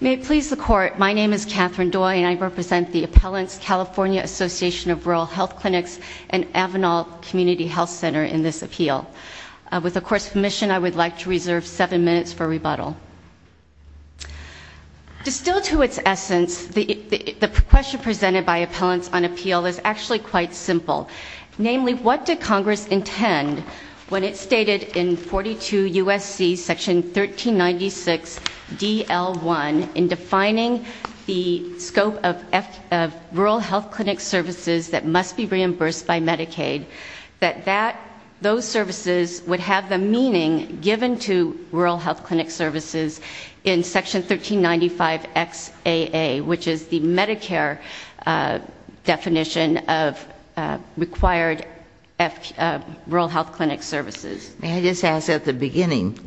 May it please the court, my name is Catherine Doy and I represent the Appellants California Association of Rural Health Clinics and Avenal Community Health Center in this appeal. With the court's permission, I would like to reserve seven minutes for rebuttal. Distilled to its essence, the question presented by appellants on appeal is actually quite simple. Namely, what did Congress intend when it stated in 42 USC, section 1396 DL1, in defining the scope of rural health clinic services that must be reimbursed by Medicaid. That those services would have the meaning given to rural health clinic services in section 1395 XAA, which is the Medicare definition of required rural health clinic services. May I just ask at the beginning,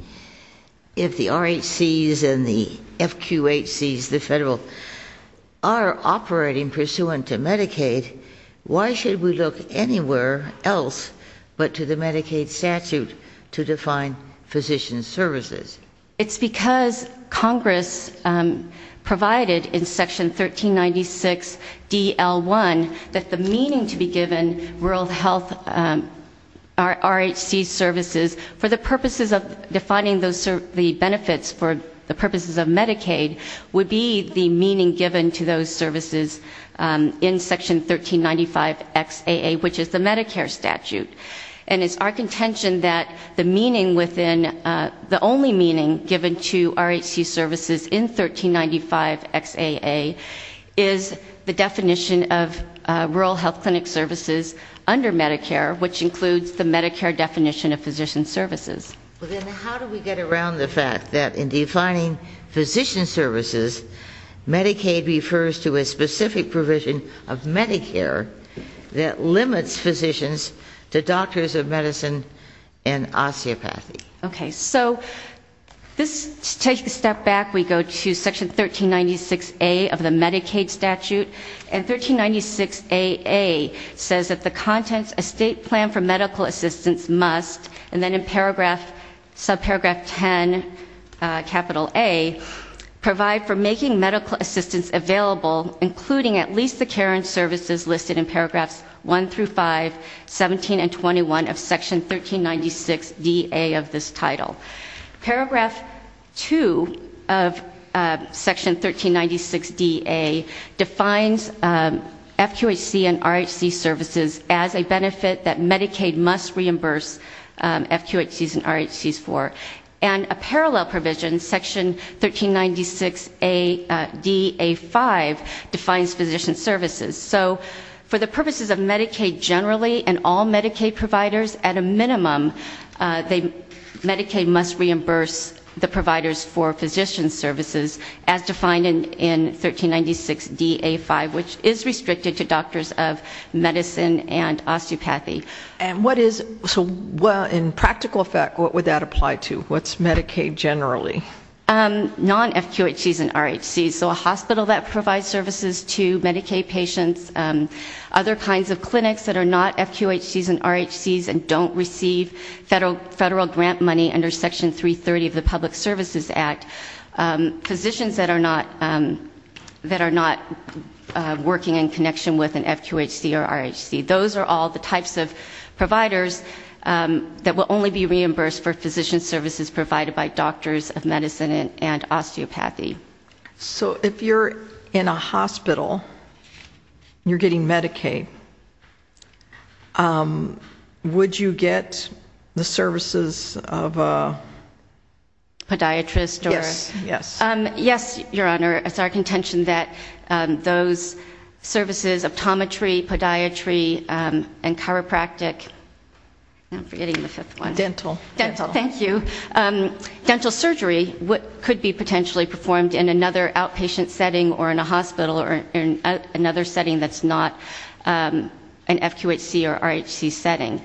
if the RHCs and the FQHCs, the federal, are operating pursuant to Medicaid, why should we look anywhere else but to the Medicaid statute to define physician services? It's because Congress provided in section 1396 DL1 that the meaning to be given rural health RHC services for the purposes of defining the benefits for the purposes of Medicaid would be the meaning given to those services. In section 1395 XAA, which is the Medicare statute. And it's our contention that the meaning within, the only meaning given to RHC services in 1395 XAA is the definition of rural health clinic services under Medicare, which includes the Medicare definition of physician services. Well then how do we get around the fact that in defining physician services, Medicaid refers to a specific provision of Medicare that limits physicians to doctors of medicine and osteopathy? Okay, so this, to take a step back, we go to section 1396A of the Medicaid statute. And 1396AA says that the contents, a state plan for medical assistance must, and then in paragraph, subparagraph 10, capital A, provide for making medical assistance available including at least the care and services listed in paragraphs 1 through 5, 17 and 21 of section 1396DA of this title. Paragraph 2 of section 1396DA defines FQHC and RHC services as a benefit that Medicaid must reimburse FQHCs and RHCs for. And a parallel provision, section 1396DA5, defines physician services. So for the purposes of Medicaid generally and all Medicaid providers, at a minimum, Medicaid must reimburse the providers for physician services as defined in 1396DA5, which is restricted to doctors of medicine and osteopathy. And what is, so in practical effect, what would that apply to? What's Medicaid generally? Non-FQHCs and RHCs, so a hospital that provides services to Medicaid patients, other kinds of clinics that are not FQHCs and RHCs and don't receive federal grant money under section 330 of the Public Services Act. Physicians that are not working in connection with an FQHC or RHC. Those are all the types of providers that will only be reimbursed for medicine and osteopathy. So if you're in a hospital, and you're getting Medicaid, would you get the services of a- Podiatrist or- Yes, yes. Yes, your honor. It's our contention that those services, optometry, podiatry and chiropractic, I'm forgetting the fifth one. Dental. Dental, thank you. Dental surgery could be potentially performed in another outpatient setting or in a hospital or in another setting that's not an FQHC or RHC setting.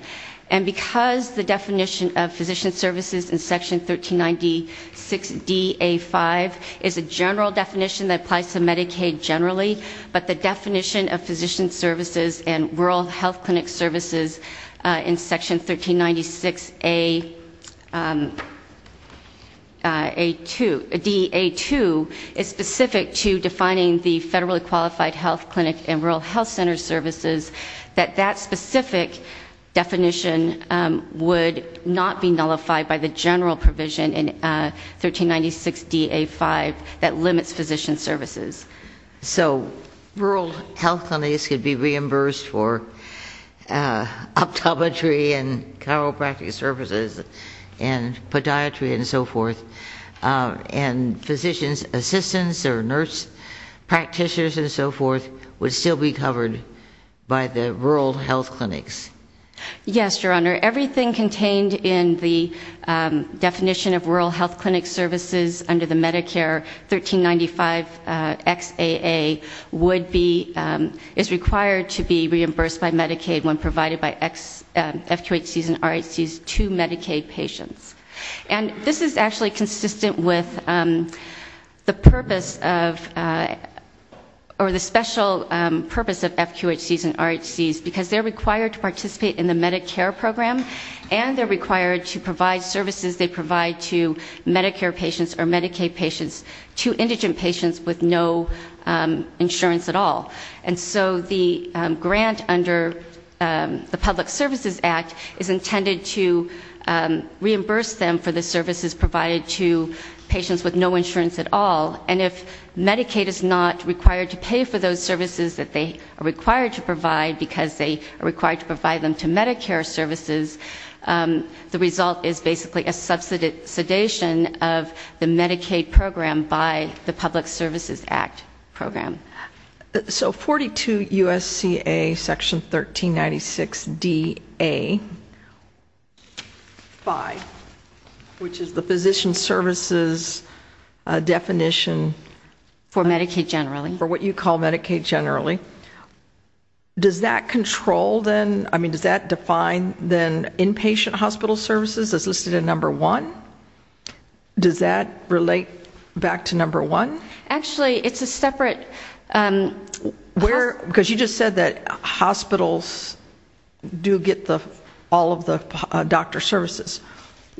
And because the definition of physician services in section 1396 DA5 is a general definition that applies to Medicaid generally. But the definition of physician services and rural health clinic services in section 1396 DA2 is specific to defining the federally qualified health clinic and rural health center services, that that specific definition would not be nullified by the general provision in 1396 DA5 that limits physician services. So rural health clinics could be reimbursed for optometry and chiropractic services and podiatry and so forth. And physician's assistants or nurse practitioners and so forth would still be covered by the rural health clinics. Yes, your honor. Everything contained in the definition of rural health clinic services under the Medicare 1395 XAA would be, is required to be reimbursed by Medicaid when provided by FQHCs and RHCs to Medicaid patients. And this is actually consistent with the purpose of, or the special purpose of FQHCs and RHCs because they're required to participate in the Medicare program. And they're required to provide services they provide to Medicare patients or And so the grant under the Public Services Act is intended to reimburse them for the services provided to patients with no insurance at all. And if Medicaid is not required to pay for those services that they are required to provide, because they are required to provide them to Medicare services, the result is basically a subsidization of the Medicaid program by the Public Services Act program. So 42 U.S.C.A section 1396 D.A. 5, which is the physician services definition. For Medicaid generally. For what you call Medicaid generally. Does that control then, I mean does that define then inpatient hospital services as listed in number one? Does that relate back to number one? Actually, it's a separate. Where, because you just said that hospitals do get all of the doctor services.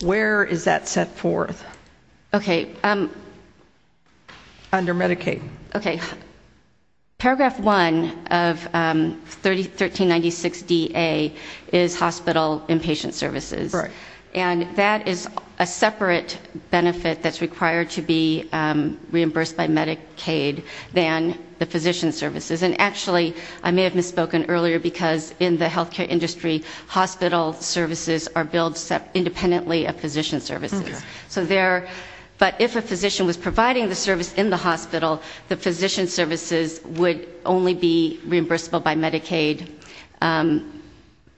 Where is that set forth? Okay. Under Medicaid. Okay. Paragraph one of 1396 DA is hospital inpatient services. Right. And that is a separate benefit that's required to be reimbursed by Medicaid than the physician services. And actually, I may have misspoken earlier because in the healthcare industry, hospital services are billed independently of physician services. So there, but if a physician was providing the service in the hospital, the physician services would only be reimbursable by Medicaid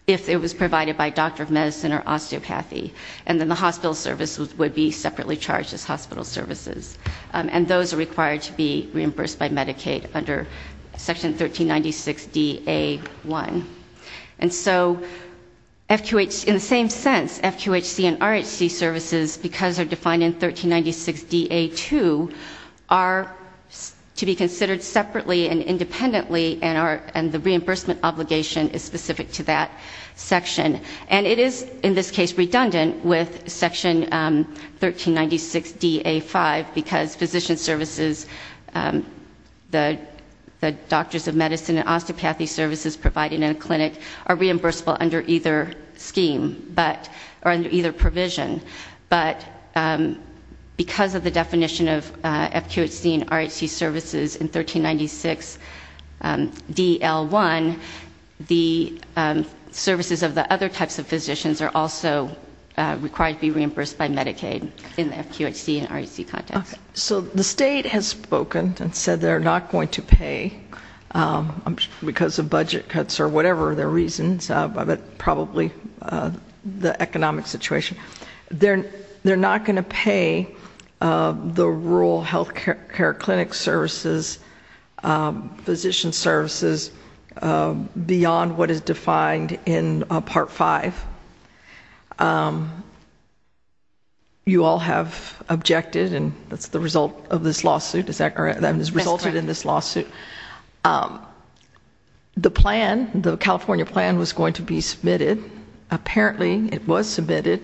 if it was provided by doctor of medicine or osteopathy. And then the hospital services would be separately charged as hospital services. And those are required to be reimbursed by Medicaid under section 1396 DA 1. And so, in the same sense, FQHC and RHC services, because they're defined in 1396 DA 2, are to be considered separately and the obligation is specific to that section. And it is, in this case, redundant with section 1396 DA 5, because physician services, the doctors of medicine and osteopathy services provided in a clinic are reimbursable under either scheme, or under either provision, but because of the definition of FQHC and RHC, the services of the other types of physicians are also required to be reimbursed by Medicaid in the FQHC and RHC context. So the state has spoken and said they're not going to pay because of budget cuts or whatever their reasons, but probably the economic situation. They're not going to pay the rural healthcare clinic services, physician services, beyond what is defined in part five. You all have objected and that's the result of this lawsuit, is that correct, that has resulted in this lawsuit. The plan, the California plan was going to be submitted. Apparently, it was submitted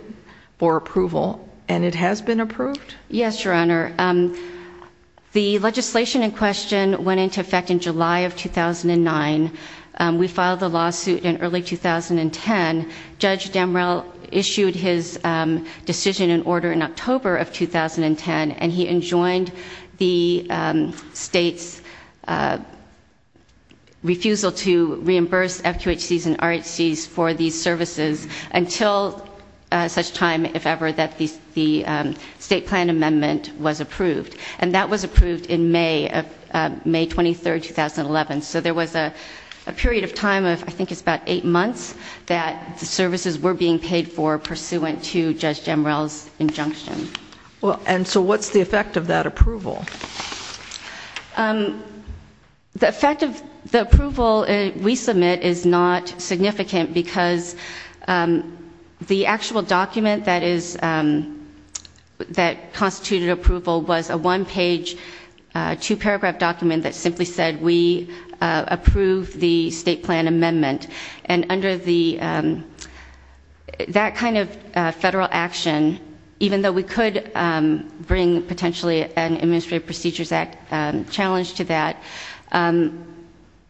for approval and it has been approved? Yes, your honor. The legislation in question went into effect in July of 2009. We filed the lawsuit in early 2010. Judge Demrell issued his decision in order in October of 2010 and he enjoined the state's refusal to reimburse FQHCs and RHCs for these services until such time, if ever, that the state plan amendment was approved. And that was approved in May of May 23, 2011. So there was a period of time of, I think it's about eight months, that the services were being paid for pursuant to Judge Demrell's injunction. Well, and so what's the effect of that approval? The effect of the approval we submit is not significant because the actual document that is, that constituted approval was a one page, two paragraph document that simply said we approve the state plan amendment. And under the, that kind of federal action, even though we could bring potentially an Administrative Procedures Act challenge to that,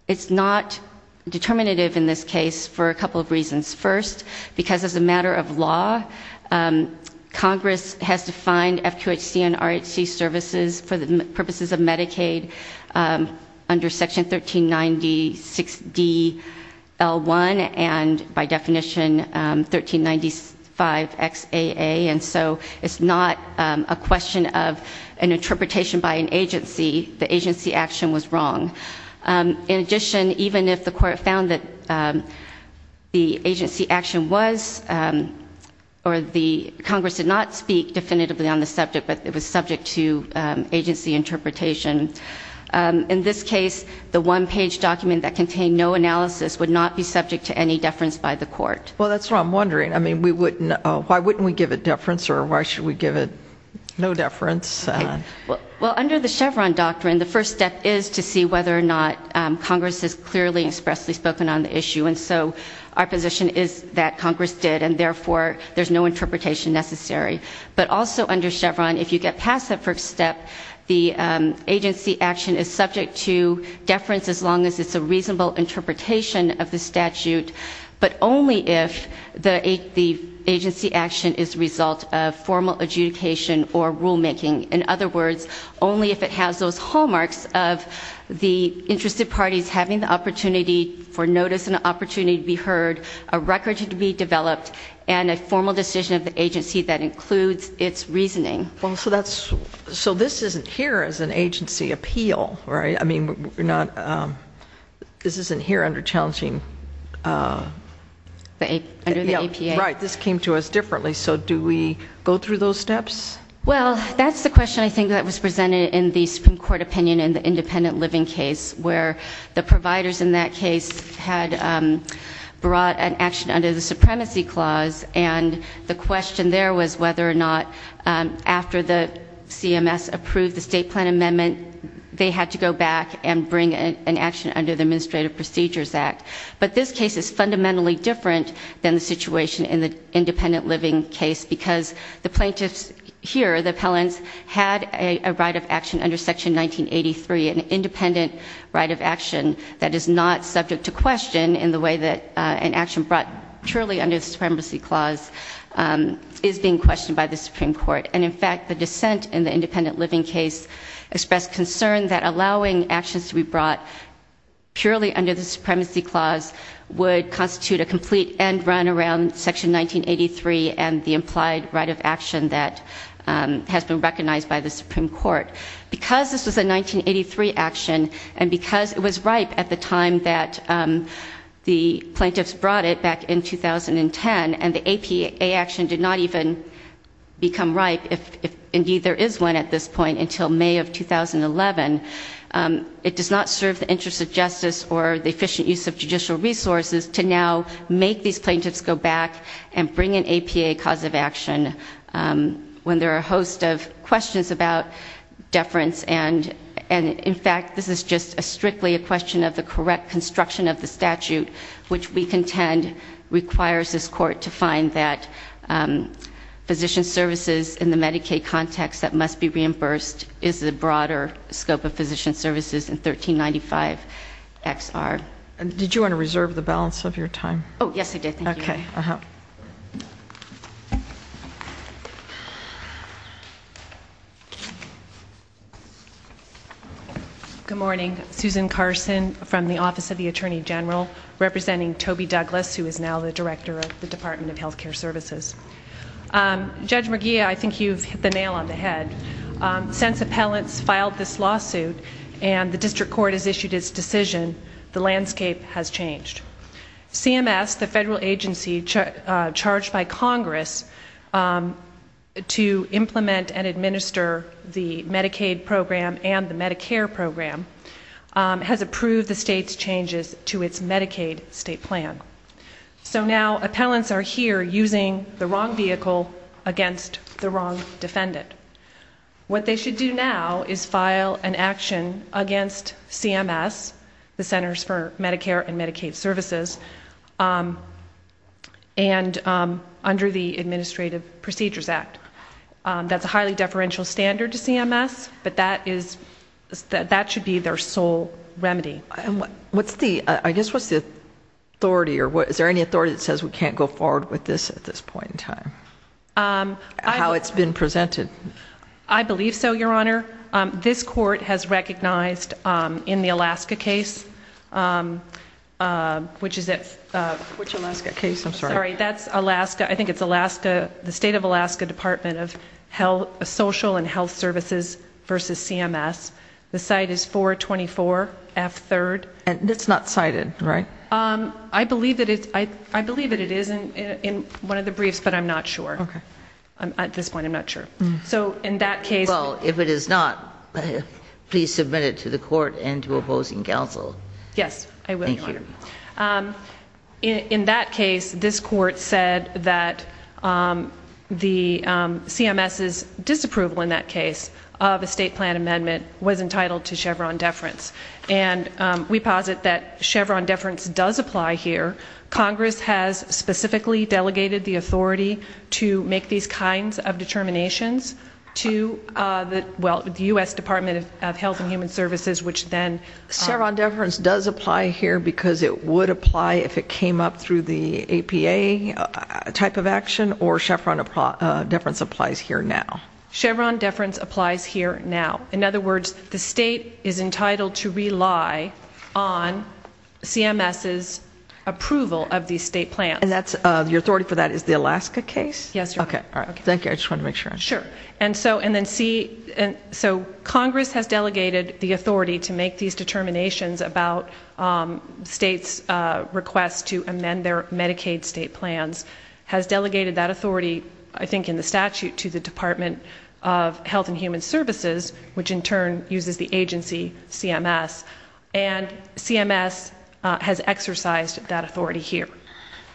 it's not determinative in this case for a couple of reasons. First, because as a matter of law, Congress has defined FQHC and RHC services for the purposes of Medicaid under section 1396DL1 and by definition 1395XAA, and so it's not a question of an interpretation by an agency. The agency action was wrong. In addition, even if the court found that the agency action was, or the Congress did not speak definitively on the subject, but it was subject to agency interpretation, in this case, the one page document that contained no analysis would not be subject to any deference by the court. Well, that's what I'm wondering. I mean, we wouldn't, why wouldn't we give it deference or why should we give it no deference? Well, under the Chevron doctrine, the first step is to see whether or not Congress has clearly and expressly spoken on the issue. And so our position is that Congress did, and therefore there's no interpretation necessary. But also under Chevron, if you get past that first step, the agency action is subject to deference as long as it's a reasonable interpretation of the statute, but only if the agency action is a result of formal adjudication or rulemaking. In other words, only if it has those hallmarks of the interested parties having the opportunity for notice and the opportunity to be heard, a record to be developed, and a formal decision of the agency that includes its reasoning. Well, so that's, so this isn't here as an agency appeal, right? I mean, we're not, this isn't here under challenging. Under the APA. Right, this came to us differently. So do we go through those steps? Well, that's the question I think that was presented in the Supreme Court opinion in the independent living case, where the providers in that case had brought an action under the supremacy clause. And the question there was whether or not after the CMS approved the state plan amendment, they had to go back and bring an action under the Administrative Procedures Act. But this case is fundamentally different than the situation in the independent living case, because the plaintiffs here, the appellants, had a right of action under Section 1983, an independent right of action that is not subject to question in the way that an action brought purely under the supremacy clause is being questioned by the Supreme Court. And in fact, the dissent in the independent living case expressed concern that allowing actions to be brought purely under the supremacy clause would constitute a complete end run around Section 1983 and the implied right of action that has been recognized by the Supreme Court. Because this was a 1983 action, and because it was ripe at the time that the plaintiffs brought it, back in 2010, and the APA action did not even become ripe, if indeed there is one at this point, until May of 2011, it does not serve the interest of justice or the efficient use of judicial resources to now make these plaintiffs go back and bring an APA cause of action when there are a host of questions about deference. And in fact, this is just strictly a question of the correct construction of the statute, which we contend requires this court to find that physician services in the Medicaid context that must be reimbursed is the broader scope of physician services in 1395 XR. Did you want to reserve the balance of your time? Yes, I did. Thank you. Okay. Good morning. Susan Carson from the Office of the Attorney General, representing Toby Douglas, who is now the Director of the Department of Healthcare Services. Judge McGee, I think you've hit the nail on the head. Since appellants filed this lawsuit and the district court has issued its decision, the landscape has changed. CMS, the federal agency charged by Congress to implement and administer the Medicaid program and the Medicare program, has approved the state's changes to its Medicaid state plan. So now, appellants are here using the wrong vehicle against the wrong defendant. What they should do now is file an action against CMS, the Centers for Medicare and Medicaid Services, and under the Administrative Procedures Act. That's a highly deferential standard to CMS, but that should be their sole remedy. What's the, I guess, what's the authority or what, is there any authority that says we can't go forward with this at this point in time, how it's been presented? I believe so, Your Honor. This court has recognized in the Alaska case, which is it? Which Alaska case? I'm sorry. That's Alaska, I think it's Alaska, the state of Alaska Department of Health, Social and Health Services versus CMS. The site is 424 F 3rd. And it's not cited, right? I believe that it is in one of the briefs, but I'm not sure. Okay. At this point, I'm not sure. So in that case- Well, if it is not, please submit it to the court and to opposing counsel. Yes, I will, Your Honor. In that case, this court said that the CMS's disapproval in that case of a state plan amendment was entitled to Chevron deference. And we posit that Chevron deference does apply here. Congress has specifically delegated the authority to make these kinds of determinations to the, well, the US Department of Health and Human Services, which then- Chevron deference does apply here because it would apply if it came up through the APA type of action, or Chevron deference applies here now? Chevron deference applies here now. In other words, the state is entitled to rely on CMS's approval of these state plans. And that's, your authority for that is the Alaska case? Yes, Your Honor. Okay. All right. Thank you. I just wanted to make sure. Sure. And so, Congress has delegated the authority to make these determinations about states' requests to amend their Medicaid state plans, has delegated that authority, I think in the Department of Health and Human Services, which in turn uses the agency CMS, and CMS has exercised that authority here.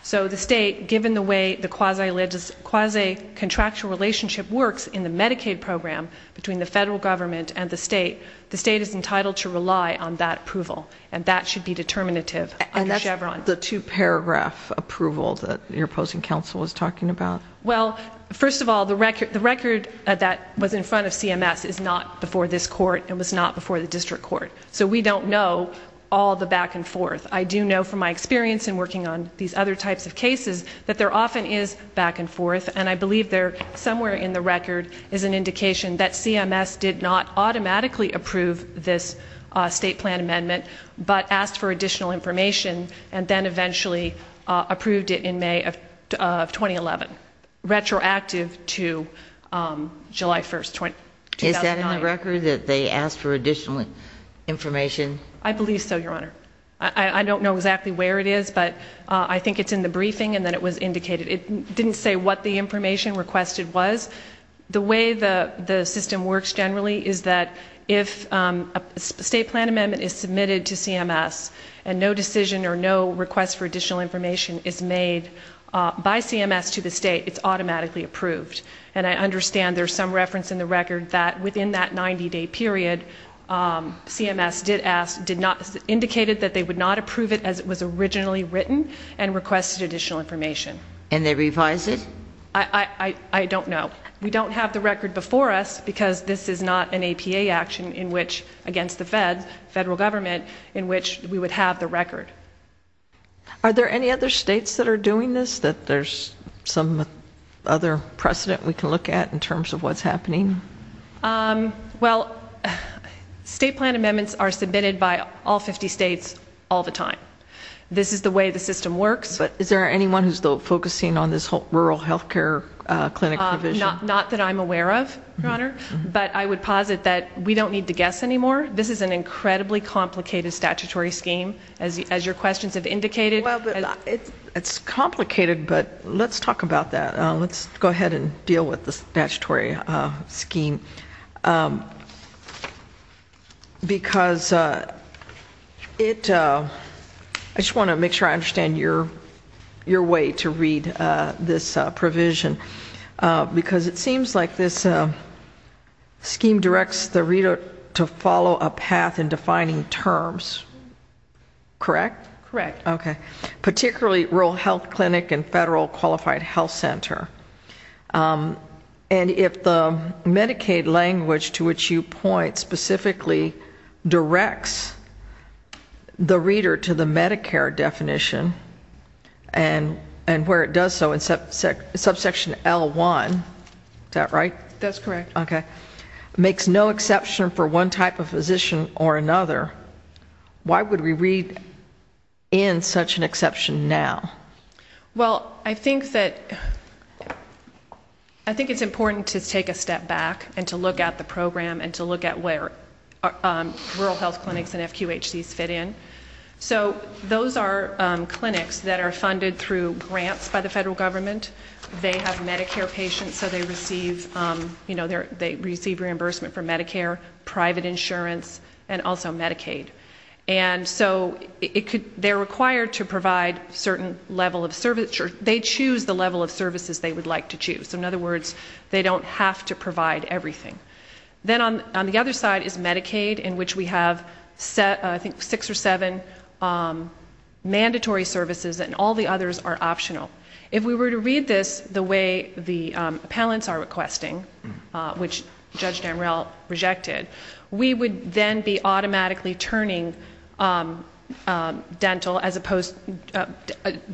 So the state, given the way the quasi-contractual relationship works in the Medicaid program between the federal government and the state, the state is entitled to rely on that approval. And that should be determinative under Chevron. And that's the two-paragraph approval that your opposing counsel was talking about? Well, first of all, the record that was in front of CMS is not before this Court and was not before the District Court. So we don't know all the back and forth. I do know from my experience in working on these other types of cases that there often is back and forth, and I believe there, somewhere in the record, is an indication that CMS did not automatically approve this state plan amendment, but asked for additional information and then eventually approved it in May of 2011, retroactive to July 1, 2009. Is that in the record, that they asked for additional information? I believe so, Your Honor. I don't know exactly where it is, but I think it's in the briefing and that it was indicated. It didn't say what the information requested was. The way the system works generally is that if a state plan amendment is submitted to CMS and no request for additional information is made by CMS to the state, it's automatically approved. And I understand there's some reference in the record that within that 90-day period, CMS did ask, indicated that they would not approve it as it was originally written and requested additional information. And they revised it? I don't know. We don't have the record before us because this is not an APA action in which, against the feds, federal government, in which we would have the record. Are there any other states that are doing this that there's some other precedent we can look at in terms of what's happening? Well, state plan amendments are submitted by all 50 states all the time. This is the way the system works. Is there anyone who's focusing on this rural health care clinic provision? Not that I'm aware of, Your Honor. But I would posit that we don't need to guess anymore. This is an incredibly complicated statutory scheme, as your questions have indicated. It's complicated, but let's talk about that. Let's go ahead and deal with the statutory scheme. Because it, I just want to make sure I understand your way to read this provision. Because it seems like this scheme directs the reader to follow a path in defining terms. Correct? Correct. Okay. Particularly rural health clinic and federal qualified health center. And if the Medicaid language to which you point specifically directs the reader to the exception L1, is that right? That's correct. Okay. Makes no exception for one type of physician or another. Why would we read in such an exception now? Well, I think that, I think it's important to take a step back and to look at the program and to look at where rural health clinics and FQHCs fit in. So those are clinics that are funded through grants by the federal government. They have Medicare patients, so they receive reimbursement for Medicare, private insurance, and also Medicaid. And so they're required to provide certain level of service, or they choose the level of services they would like to choose. So in other words, they don't have to provide everything. Then on the other side is Medicaid, in which we have, I think, six or seven mandatory services and all the others are optional. If we were to read this the way the appellants are requesting, which Judge Damrell rejected, we would then be automatically turning dental, as opposed,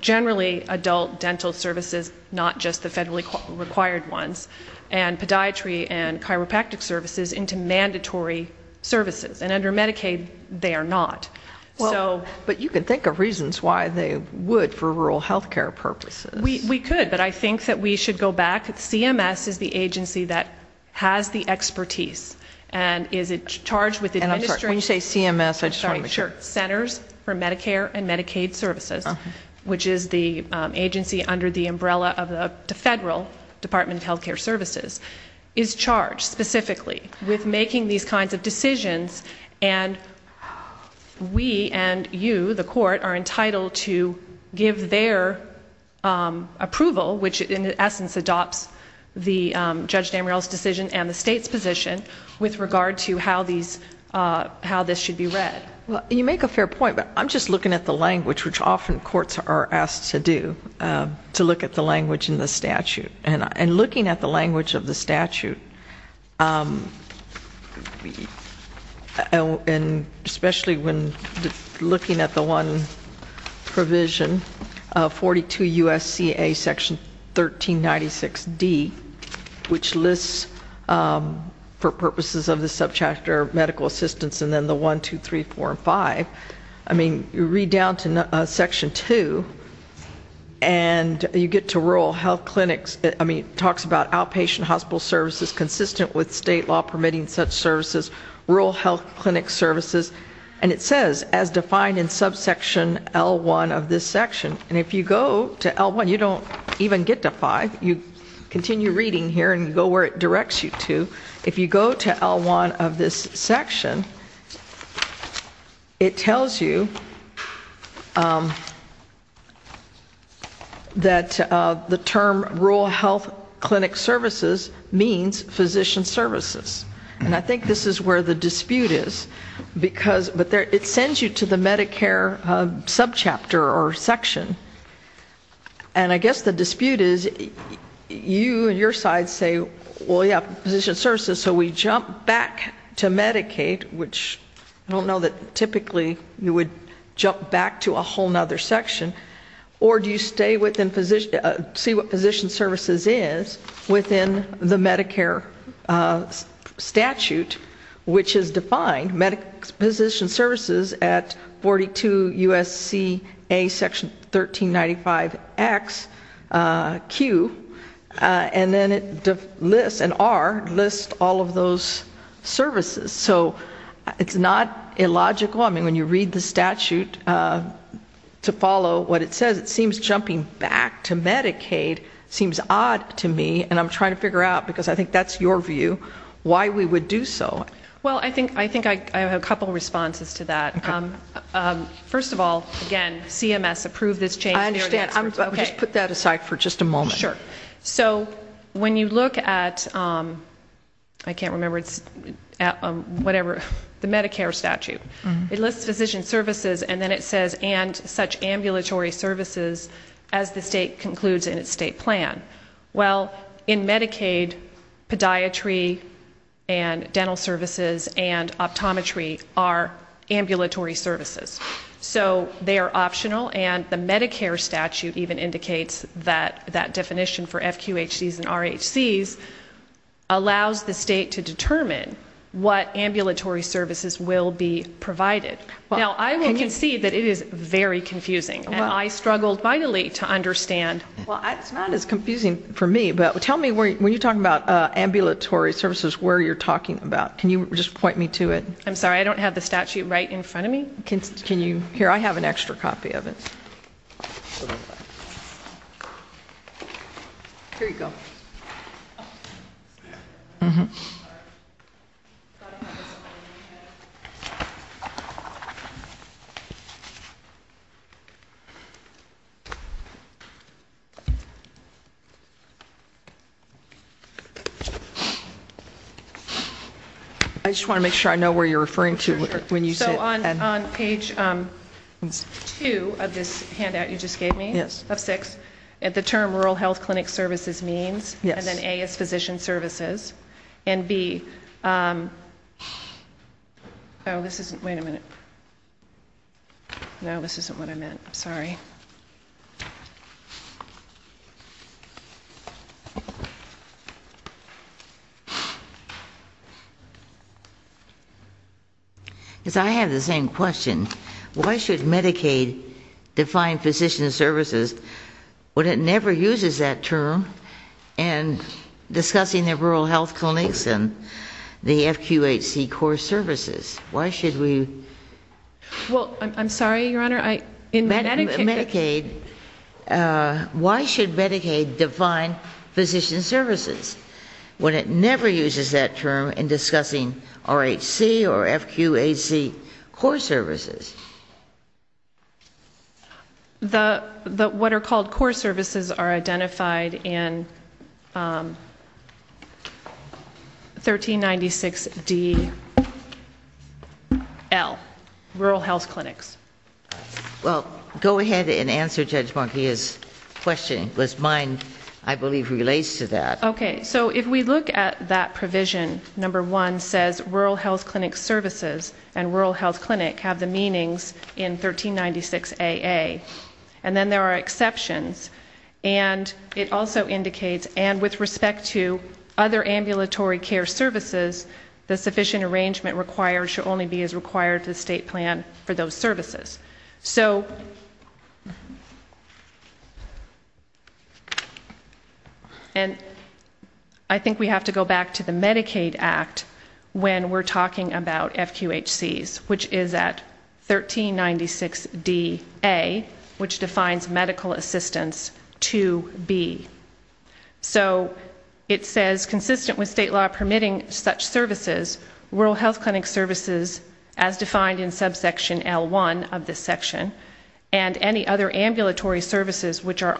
generally adult dental services, not just the federally required ones, and podiatry and chiropractic services into mandatory services. And under Medicaid, they are not. But you can think of reasons why they would for rural health care purposes. We could, but I think that we should go back. CMS is the agency that has the expertise. And is it charged with administering... And I'm sorry, when you say CMS, I just want to make sure. I'm sorry, sure. Centers for Medicare and Medicaid Services, which is the agency under the umbrella of the federal Department of Health Care Services, is charged specifically with making these kinds of decisions. And we and you, the court, are entitled to give their approval, which in essence adopts the Judge Damrell's decision and the state's position with regard to how this should be read. Well, you make a fair point, but I'm just looking at the language, which often courts are asked to do, to look at the language in the statute. And looking at the language of the statute, and especially when looking at the one provision, 42 U.S.C.A. section 1396D, which lists for purposes of the subchapter medical assistance and then the 1, 2, 3, 4, and 5, I mean, you read down to section 2, and you get to rural health clinics. I mean, it talks about outpatient hospital services consistent with state law permitting such services, rural health clinic services. And it says, as defined in subsection L1 of this section, and if you go to L1, you don't even get to 5. You continue reading here and go where it directs you to. If you go to L1 of this section, it tells you that the term rural health clinic services means physician services. And I think this is where the dispute is, because it sends you to the Medicare subchapter or section. And I guess the dispute is, you and your side say, well, yeah, physician services. So we jump back to Medicaid, which I don't know that typically you would jump back to a whole other section. Or do you stay within, see what physician services is within the Medicare statute, which is defined, physician services at 42 U.S.C.A. section 1395XQ, and then it lists, and R lists all of those services. So it's not illogical. I mean, when you read the statute to follow what it says, it seems jumping back to Medicaid seems odd to me. And I'm trying to figure out, because I think that's your view, why we would do so. Well, I think I have a couple of responses to that. First of all, again, CMS approved this change. I understand. Just put that aside for just a moment. Sure. So when you look at, I can't remember, whatever, the Medicare statute, it lists physician services, and then it says, and such ambulatory services as the state concludes in its state plan. Well, in Medicaid, podiatry and dental services and optometry are ambulatory services. So they are optional, and the Medicare statute even indicates that that definition for FQHCs and RHCs allows the state to determine what ambulatory services will be provided. Now, I will concede that it is very confusing, and I struggled vitally to understand. Well, it's not as confusing for me, but tell me, when you're talking about ambulatory services, where you're talking about. Can you just point me to it? I'm sorry, I don't have the statute right in front of me. Can you? Here, I have an extra copy of it. Here you go. Mm-hmm. I just want to make sure I know where you're referring to when you say, and. Sure. So on page two of this handout you just gave me. Yes. Of six. The term rural health clinic services means. Yes. And then A is physician services. And B. Oh, this isn't. Wait a minute. No, this isn't what I meant. I'm sorry. Because I have the same question. Why should Medicaid define physician services when it never uses that term in discussing the rural health clinics and the FQHC core services? Why should we? Well, I'm sorry, Your Honor. Why should Medicaid define physician services when it never uses that term in discussing RHC or FQHC core services? The, what are called core services are identified in 1396 D.L. Rural health clinics. Well, go ahead and answer Judge Monkia's question. Because mine, I believe, relates to that. Okay. So if we look at that provision, number one says rural health clinic services and rural health clinic have the meanings in 1396 A.A. And then there are exceptions. And it also indicates and with respect to other ambulatory care services, the sufficient arrangement required should only be as required to the state plan for those services. So and I think we have to go back to the Medicaid Act when we're talking about FQHCs, which is at 1396 D.A., which defines medical assistance to be. So it says consistent with state law permitting such services, rural health clinic services as defined in subsection L1 of this section and any other ambulatory services which are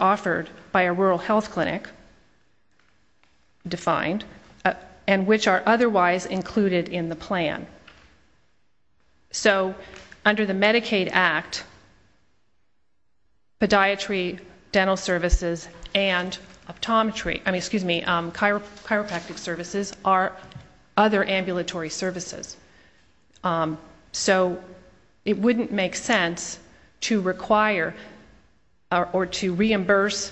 otherwise included in the plan. So under the Medicaid Act, podiatry, dental services and optometry, I mean, excuse me, chiropractic services are other ambulatory services. So it wouldn't make sense to require or to reimburse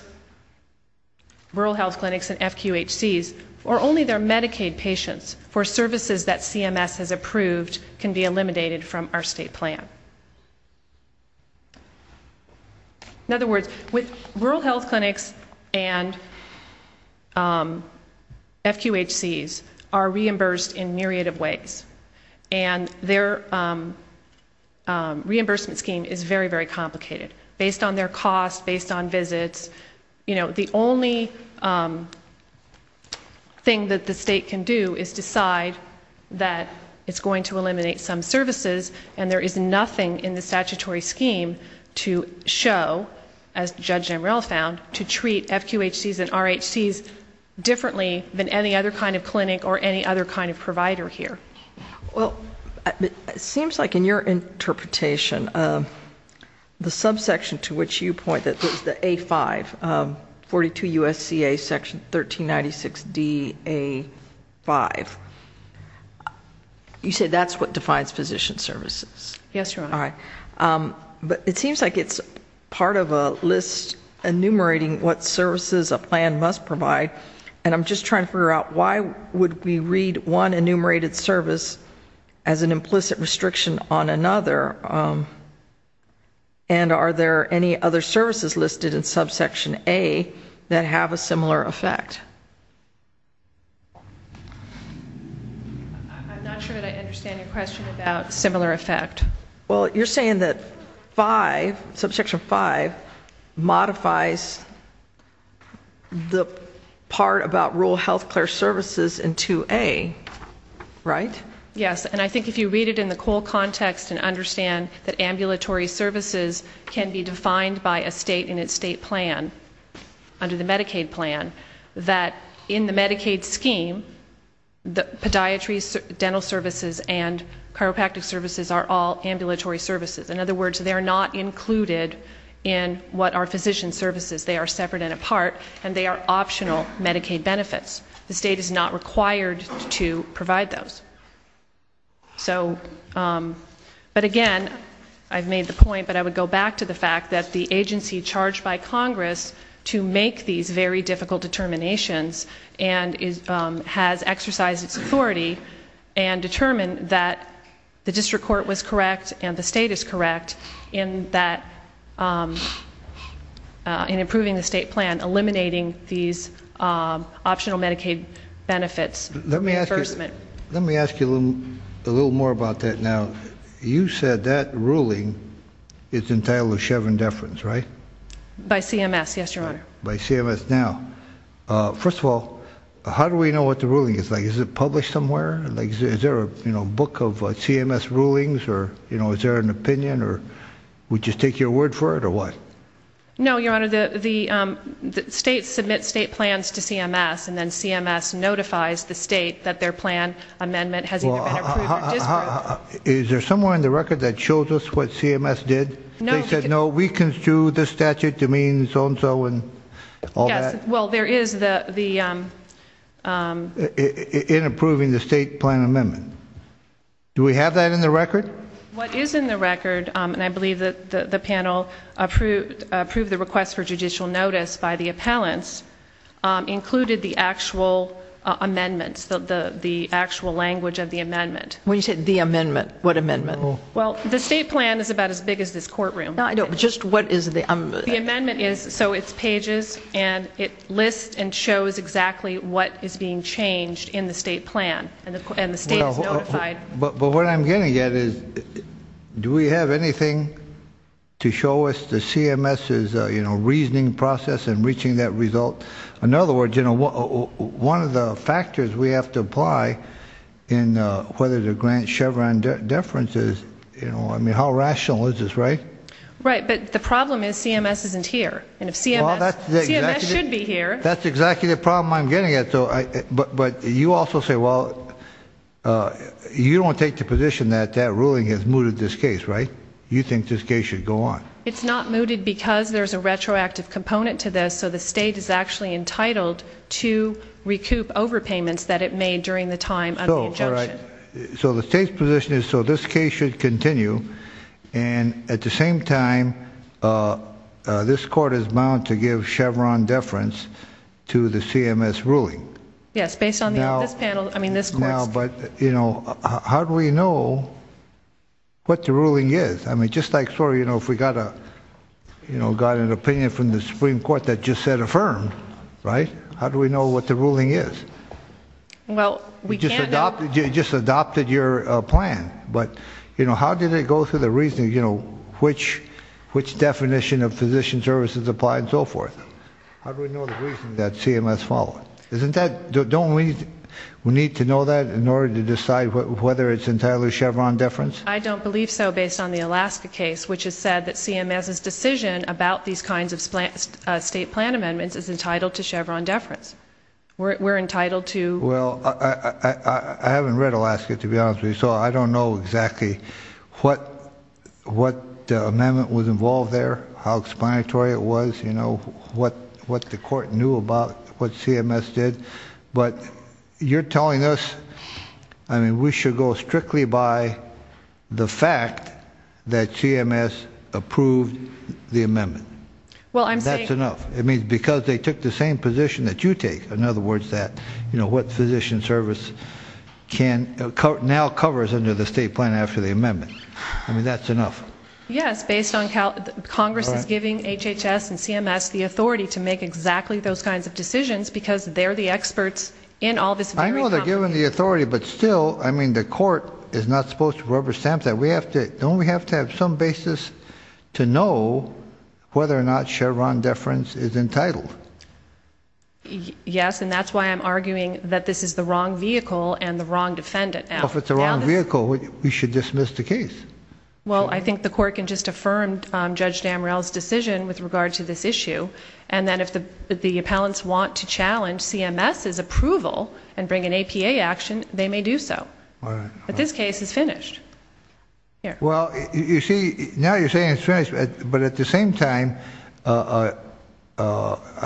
rural health clinics and FQHCs or only their Medicaid patients for services that CMS has approved can be eliminated from our state plan. In other words, with rural health clinics and FQHCs are reimbursed in myriad of ways. And their reimbursement scheme is very, very complicated based on their cost, based on visits. The only thing that the state can do is decide that it's going to eliminate some services and there is nothing in the statutory scheme to show, as Judge Jamreil found, to treat FQHCs and RHCs differently than any other kind of clinic or any other kind of provider here. Well, it seems like in your interpretation, the subsection to which you point that there's the A5, 42 U.S.C.A. section 1396 D.A. 5, you say that's what defines physician services? Yes, Your Honor. All right. But it seems like it's part of a list enumerating what services a plan must provide and I'm just trying to figure out why would we read one enumerated service as an implicit restriction on another and are there any other services listed in subsection A that have a similar effect? I'm not sure that I understand your question about similar effect. Well, you're saying that 5, subsection 5, modifies the part about rural health care services in 2A, right? Yes. And I think if you read it in the COLE context and understand that ambulatory services can be defined by a state in its state plan, under the Medicaid plan, that in the Medicaid scheme, the podiatry, dental services and chiropractic services are all ambulatory services. In other words, they're not included in what are physician services. They are separate and apart and they are optional Medicaid benefits. The state is not required to provide those. So but again, I've made the point but I would go back to the fact that the agency charged by Congress to make these very difficult determinations and has exercised its authority and determined that the district court was correct and the state is correct in that, in improving the state plan, eliminating these optional Medicaid benefits. Let me ask you a little more about that now. You said that ruling is entitled to Chevron deference, right? By CMS, yes, Your Honor. By CMS. Now, first of all, how do we know what the ruling is? Is it published somewhere? Is there a book of CMS rulings or is there an opinion or we just take your word for it or what? No, Your Honor. The state submits state plans to CMS and then CMS notifies the state that their plan amendment has either been approved or disproved. Is there somewhere in the record that shows us what CMS did? No. They said, no, we construe this statute to mean so and so and all that? Yes. Well, there is the... In approving the state plan amendment. Do we have that in the record? What is in the record, and I believe that the panel approved the request for judicial notice by the appellants, included the actual amendments, the actual language of the amendment. When you say the amendment, what amendment? Well, the state plan is about as big as this courtroom. Just what is the... The amendment is, so it's pages and it lists and shows exactly what is being changed in the state plan and the state is notified. But what I'm getting at is, do we have anything to show us the CMS's, you know, reasoning process in reaching that result? In other words, you know, one of the factors we have to apply in whether to grant Chevron deference is, you know, I mean, how rational is this, right? Right. But the problem is CMS isn't here, and if CMS should be here... Well, that's exactly the problem I'm getting at. But you also say, well, you don't take the position that that ruling has mooted this case, right? You think this case should go on. It's not mooted because there's a retroactive component to this, so the state is actually entitled to recoup overpayments that it made during the time of the injunction. So the state's position is, so this case should continue, and at the same time, this court is bound to give Chevron deference to the CMS ruling. Yes, based on this panel, I mean, this court's... Now, but, you know, how do we know what the ruling is? I mean, just like, sorry, you know, if we got an opinion from the Supreme Court that just said affirmed, right, how do we know what the ruling is? Well, we can't... You just adopted your plan, but, you know, how did it go through the reasoning, you know, which definition of physician services apply and so forth? How do we know the reason that CMS followed? Isn't that... don't we need to know that in order to decide whether it's entirely Chevron deference? I don't believe so, based on the Alaska case, which has said that CMS's decision about these kinds of state plan amendments is entitled to Chevron deference. We're entitled to... Well, I haven't read Alaska, to be honest with you, so I don't know exactly what amendment was involved there, how explanatory it was, you know, what the court knew about what CMS did. But you're telling us, I mean, we should go strictly by the fact that CMS approved the amendment. Well, I'm saying... And that's enough. It means because they took the same position that you take, in other words, that, you know, what physician service can... now covers under the state plan after the amendment. I mean, that's enough. Yes, based on how Congress is giving HHS and CMS the authority to make exactly those kinds of decisions, because they're the experts in all this very complicated... I know they're giving the authority, but still, I mean, the court is not supposed to rubber stamp that. We have to... don't we have to have some basis to know whether or not Chevron deference is entitled? Yes, and that's why I'm arguing that this is the wrong vehicle and the wrong defendant now. Well, if it's the wrong vehicle, we should dismiss the case. Well, I think the court can just affirm Judge Damrell's decision with regard to this issue, and then if the appellants want to challenge CMS's approval and bring an APA action, they may do so. All right. But this case is finished. Here. Well, you see... now you're saying it's finished, but at the same time, I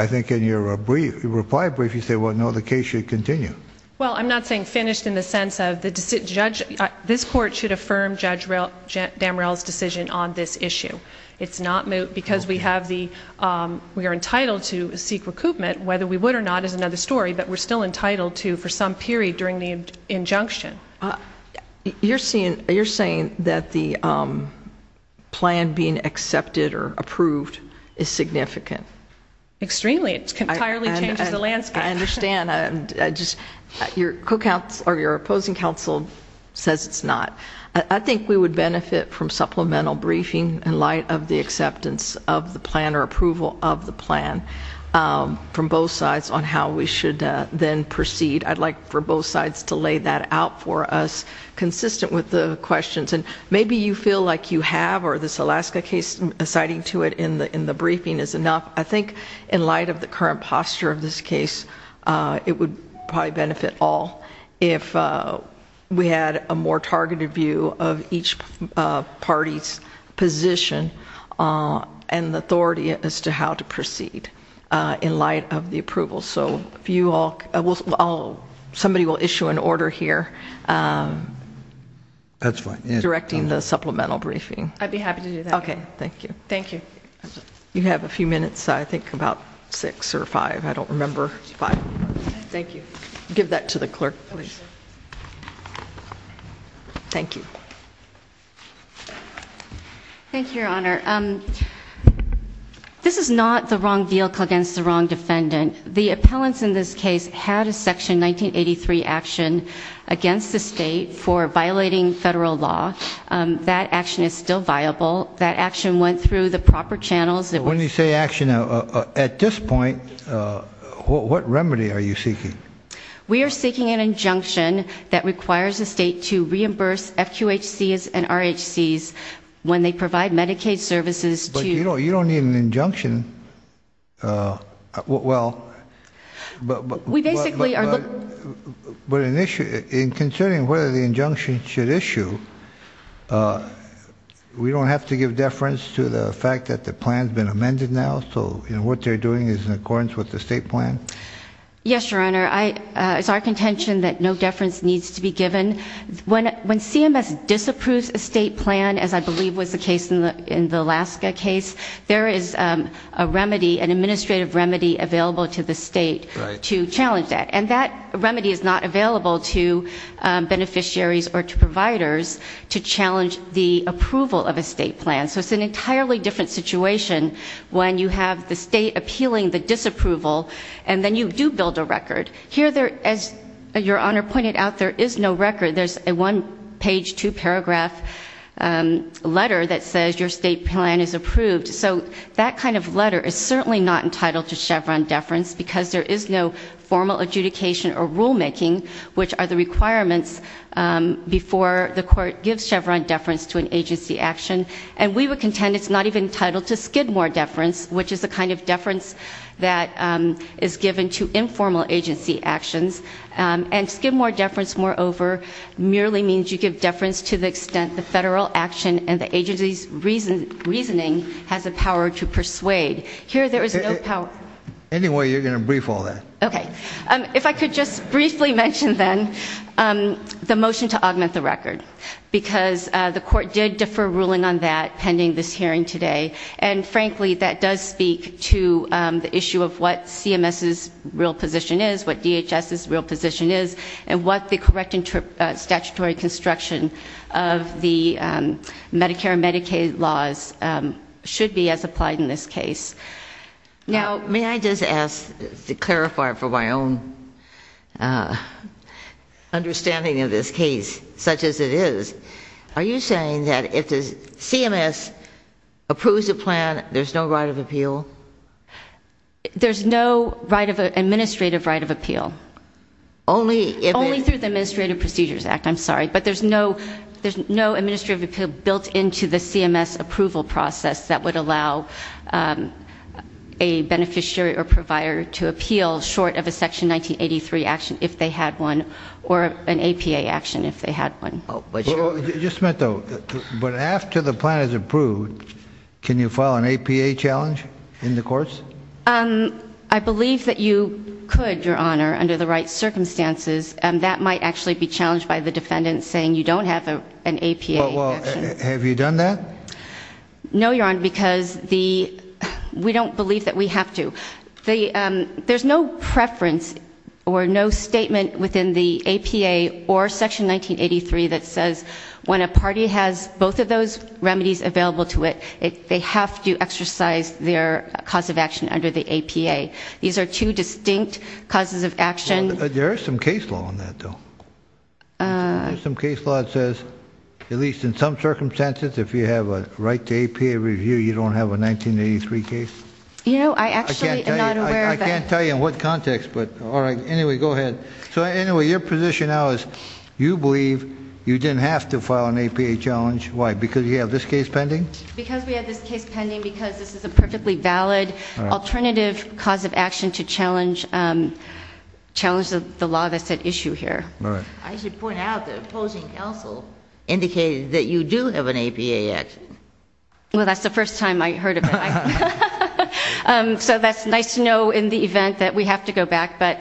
think in your reply brief, you say, well, no, the case should continue. Well, I'm not saying finished in the sense of the judge... this court should affirm Judge Damrell's decision on this issue. It's not... because we have the... we are entitled to seek recoupment. Whether we would or not is another story, but we're still entitled to for some period during the injunction. You're saying that the plan being accepted or approved is significant? Extremely. It entirely changes the landscape. I understand. I just... your opposing counsel says it's not. I think we would benefit from supplemental briefing in light of the acceptance of the plan or approval of the plan from both sides on how we should then proceed. I'd like for both sides to lay that out for us, consistent with the questions, and maybe you feel like you have, or this Alaska case, citing to it in the briefing is enough. I think in light of the current posture of this case, it would probably benefit all if we had a more targeted view of each party's position and authority as to how to proceed in light of the approval. Somebody will issue an order here directing the supplemental briefing. I'd be happy to do that. Okay. Thank you. Thank you. You have a few minutes. I think about six or five. I don't remember. Five. Thank you. Give that to the clerk, please. Thank you. Thank you, Your Honor. This is not the wrong vehicle against the wrong defendant. The appellants in this case had a Section 1983 action against the state for violating federal law. That action is still viable. That action went through the proper channels. When you say action, at this point, what remedy are you seeking? We are seeking an injunction that requires the state to reimburse FQHCs and RHCs when they provide Medicaid services to... But you don't need an injunction. We basically are... In considering whether the injunction should issue, we don't have to give deference to the fact that the plan has been amended now, so what they're doing is in accordance with the state plan? Yes, Your Honor. It's our contention that no deference needs to be given. When CMS disapproves a state plan, as I believe was the case in the Alaska case, there is a remedy, an administrative remedy available to the state to challenge that. And that remedy is not available to beneficiaries or to providers to challenge the approval of a state plan. So it's an entirely different situation when you have the state appealing the disapproval and then you do build a record. Here, as Your Honor pointed out, there is no record. There's a one-page, two-paragraph letter that says your state plan is approved. So that kind of letter is certainly not entitled to Chevron deference because there is no formal adjudication or rulemaking, which are the requirements before the court gives Chevron deference to an agency action. And we would contend it's not even entitled to Skidmore deference, which is the kind of deference that is given to informal agency actions. And Skidmore deference, moreover, merely means you give deference to the extent the federal action and the agency's reasoning has the power to persuade. Here there is no power. Anyway, you're going to brief all that. Okay. If I could just briefly mention then the motion to augment the record, because the court did defer ruling on that pending this hearing today. And frankly, that does speak to the issue of what CMS's real position is, what DHS's real position is, and what the correct and statutory construction of the Medicare and Medicaid laws should be as applied in this case. Now, may I just ask to clarify for my own understanding of this case, such as it is, are you saying that if the CMS approves a plan, there's no right of appeal? There's no administrative right of appeal. Only if it... Only through the Administrative Procedures Act, I'm sorry. But there's no administrative appeal built into the CMS approval process that would allow a beneficiary or provider to appeal short of a Section 1983 action if they had one, or an APA action if they had one. Just a minute, though. But after the plan is approved, can you file an APA challenge in the courts? I believe that you could, Your Honor, under the right circumstances. That might actually be challenged by the defendant saying you don't have an APA action. Have you done that? No, Your Honor, because we don't believe that we have to. There's no preference or no statement within the APA or Section 1983 that says when a party has both of those remedies available to it, they have to exercise their cause of action under the APA. These are two distinct causes of action. There is some case law on that, though. Some case law that says, at least in some circumstances, if you have a right to APA review, you don't have a 1983 case. You know, I actually am not aware of that. I can't tell you in what context, but, all right, anyway, go ahead. So anyway, your position now is you believe you didn't have to file an APA challenge. Why? Because you have this case pending? Because we have this case pending because this is a perfectly valid alternative cause of action to challenge the law that's at issue here. I should point out the opposing counsel indicated that you do have an APA action. Well, that's the first time I heard of it. So that's nice to know in the event that we have to go back, but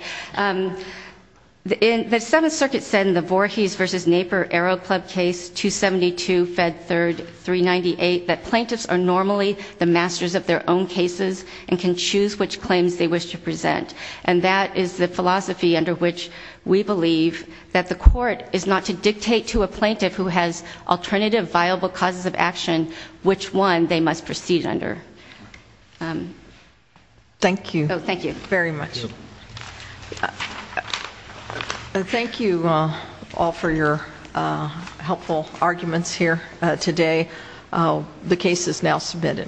the Seventh Circuit said in the Voorhees v. Naper Arrow Club case 272, Fed 3rd, 398, that plaintiffs are normally the masters of their own cases and can choose which claims they wish to present, and that is the philosophy under which we believe that the court is not to dictate to a plaintiff who has alternative viable causes of action which one they must proceed under. Thank you. Oh, thank you. Very much. Thank you all for your helpful arguments here today. The case is now submitted.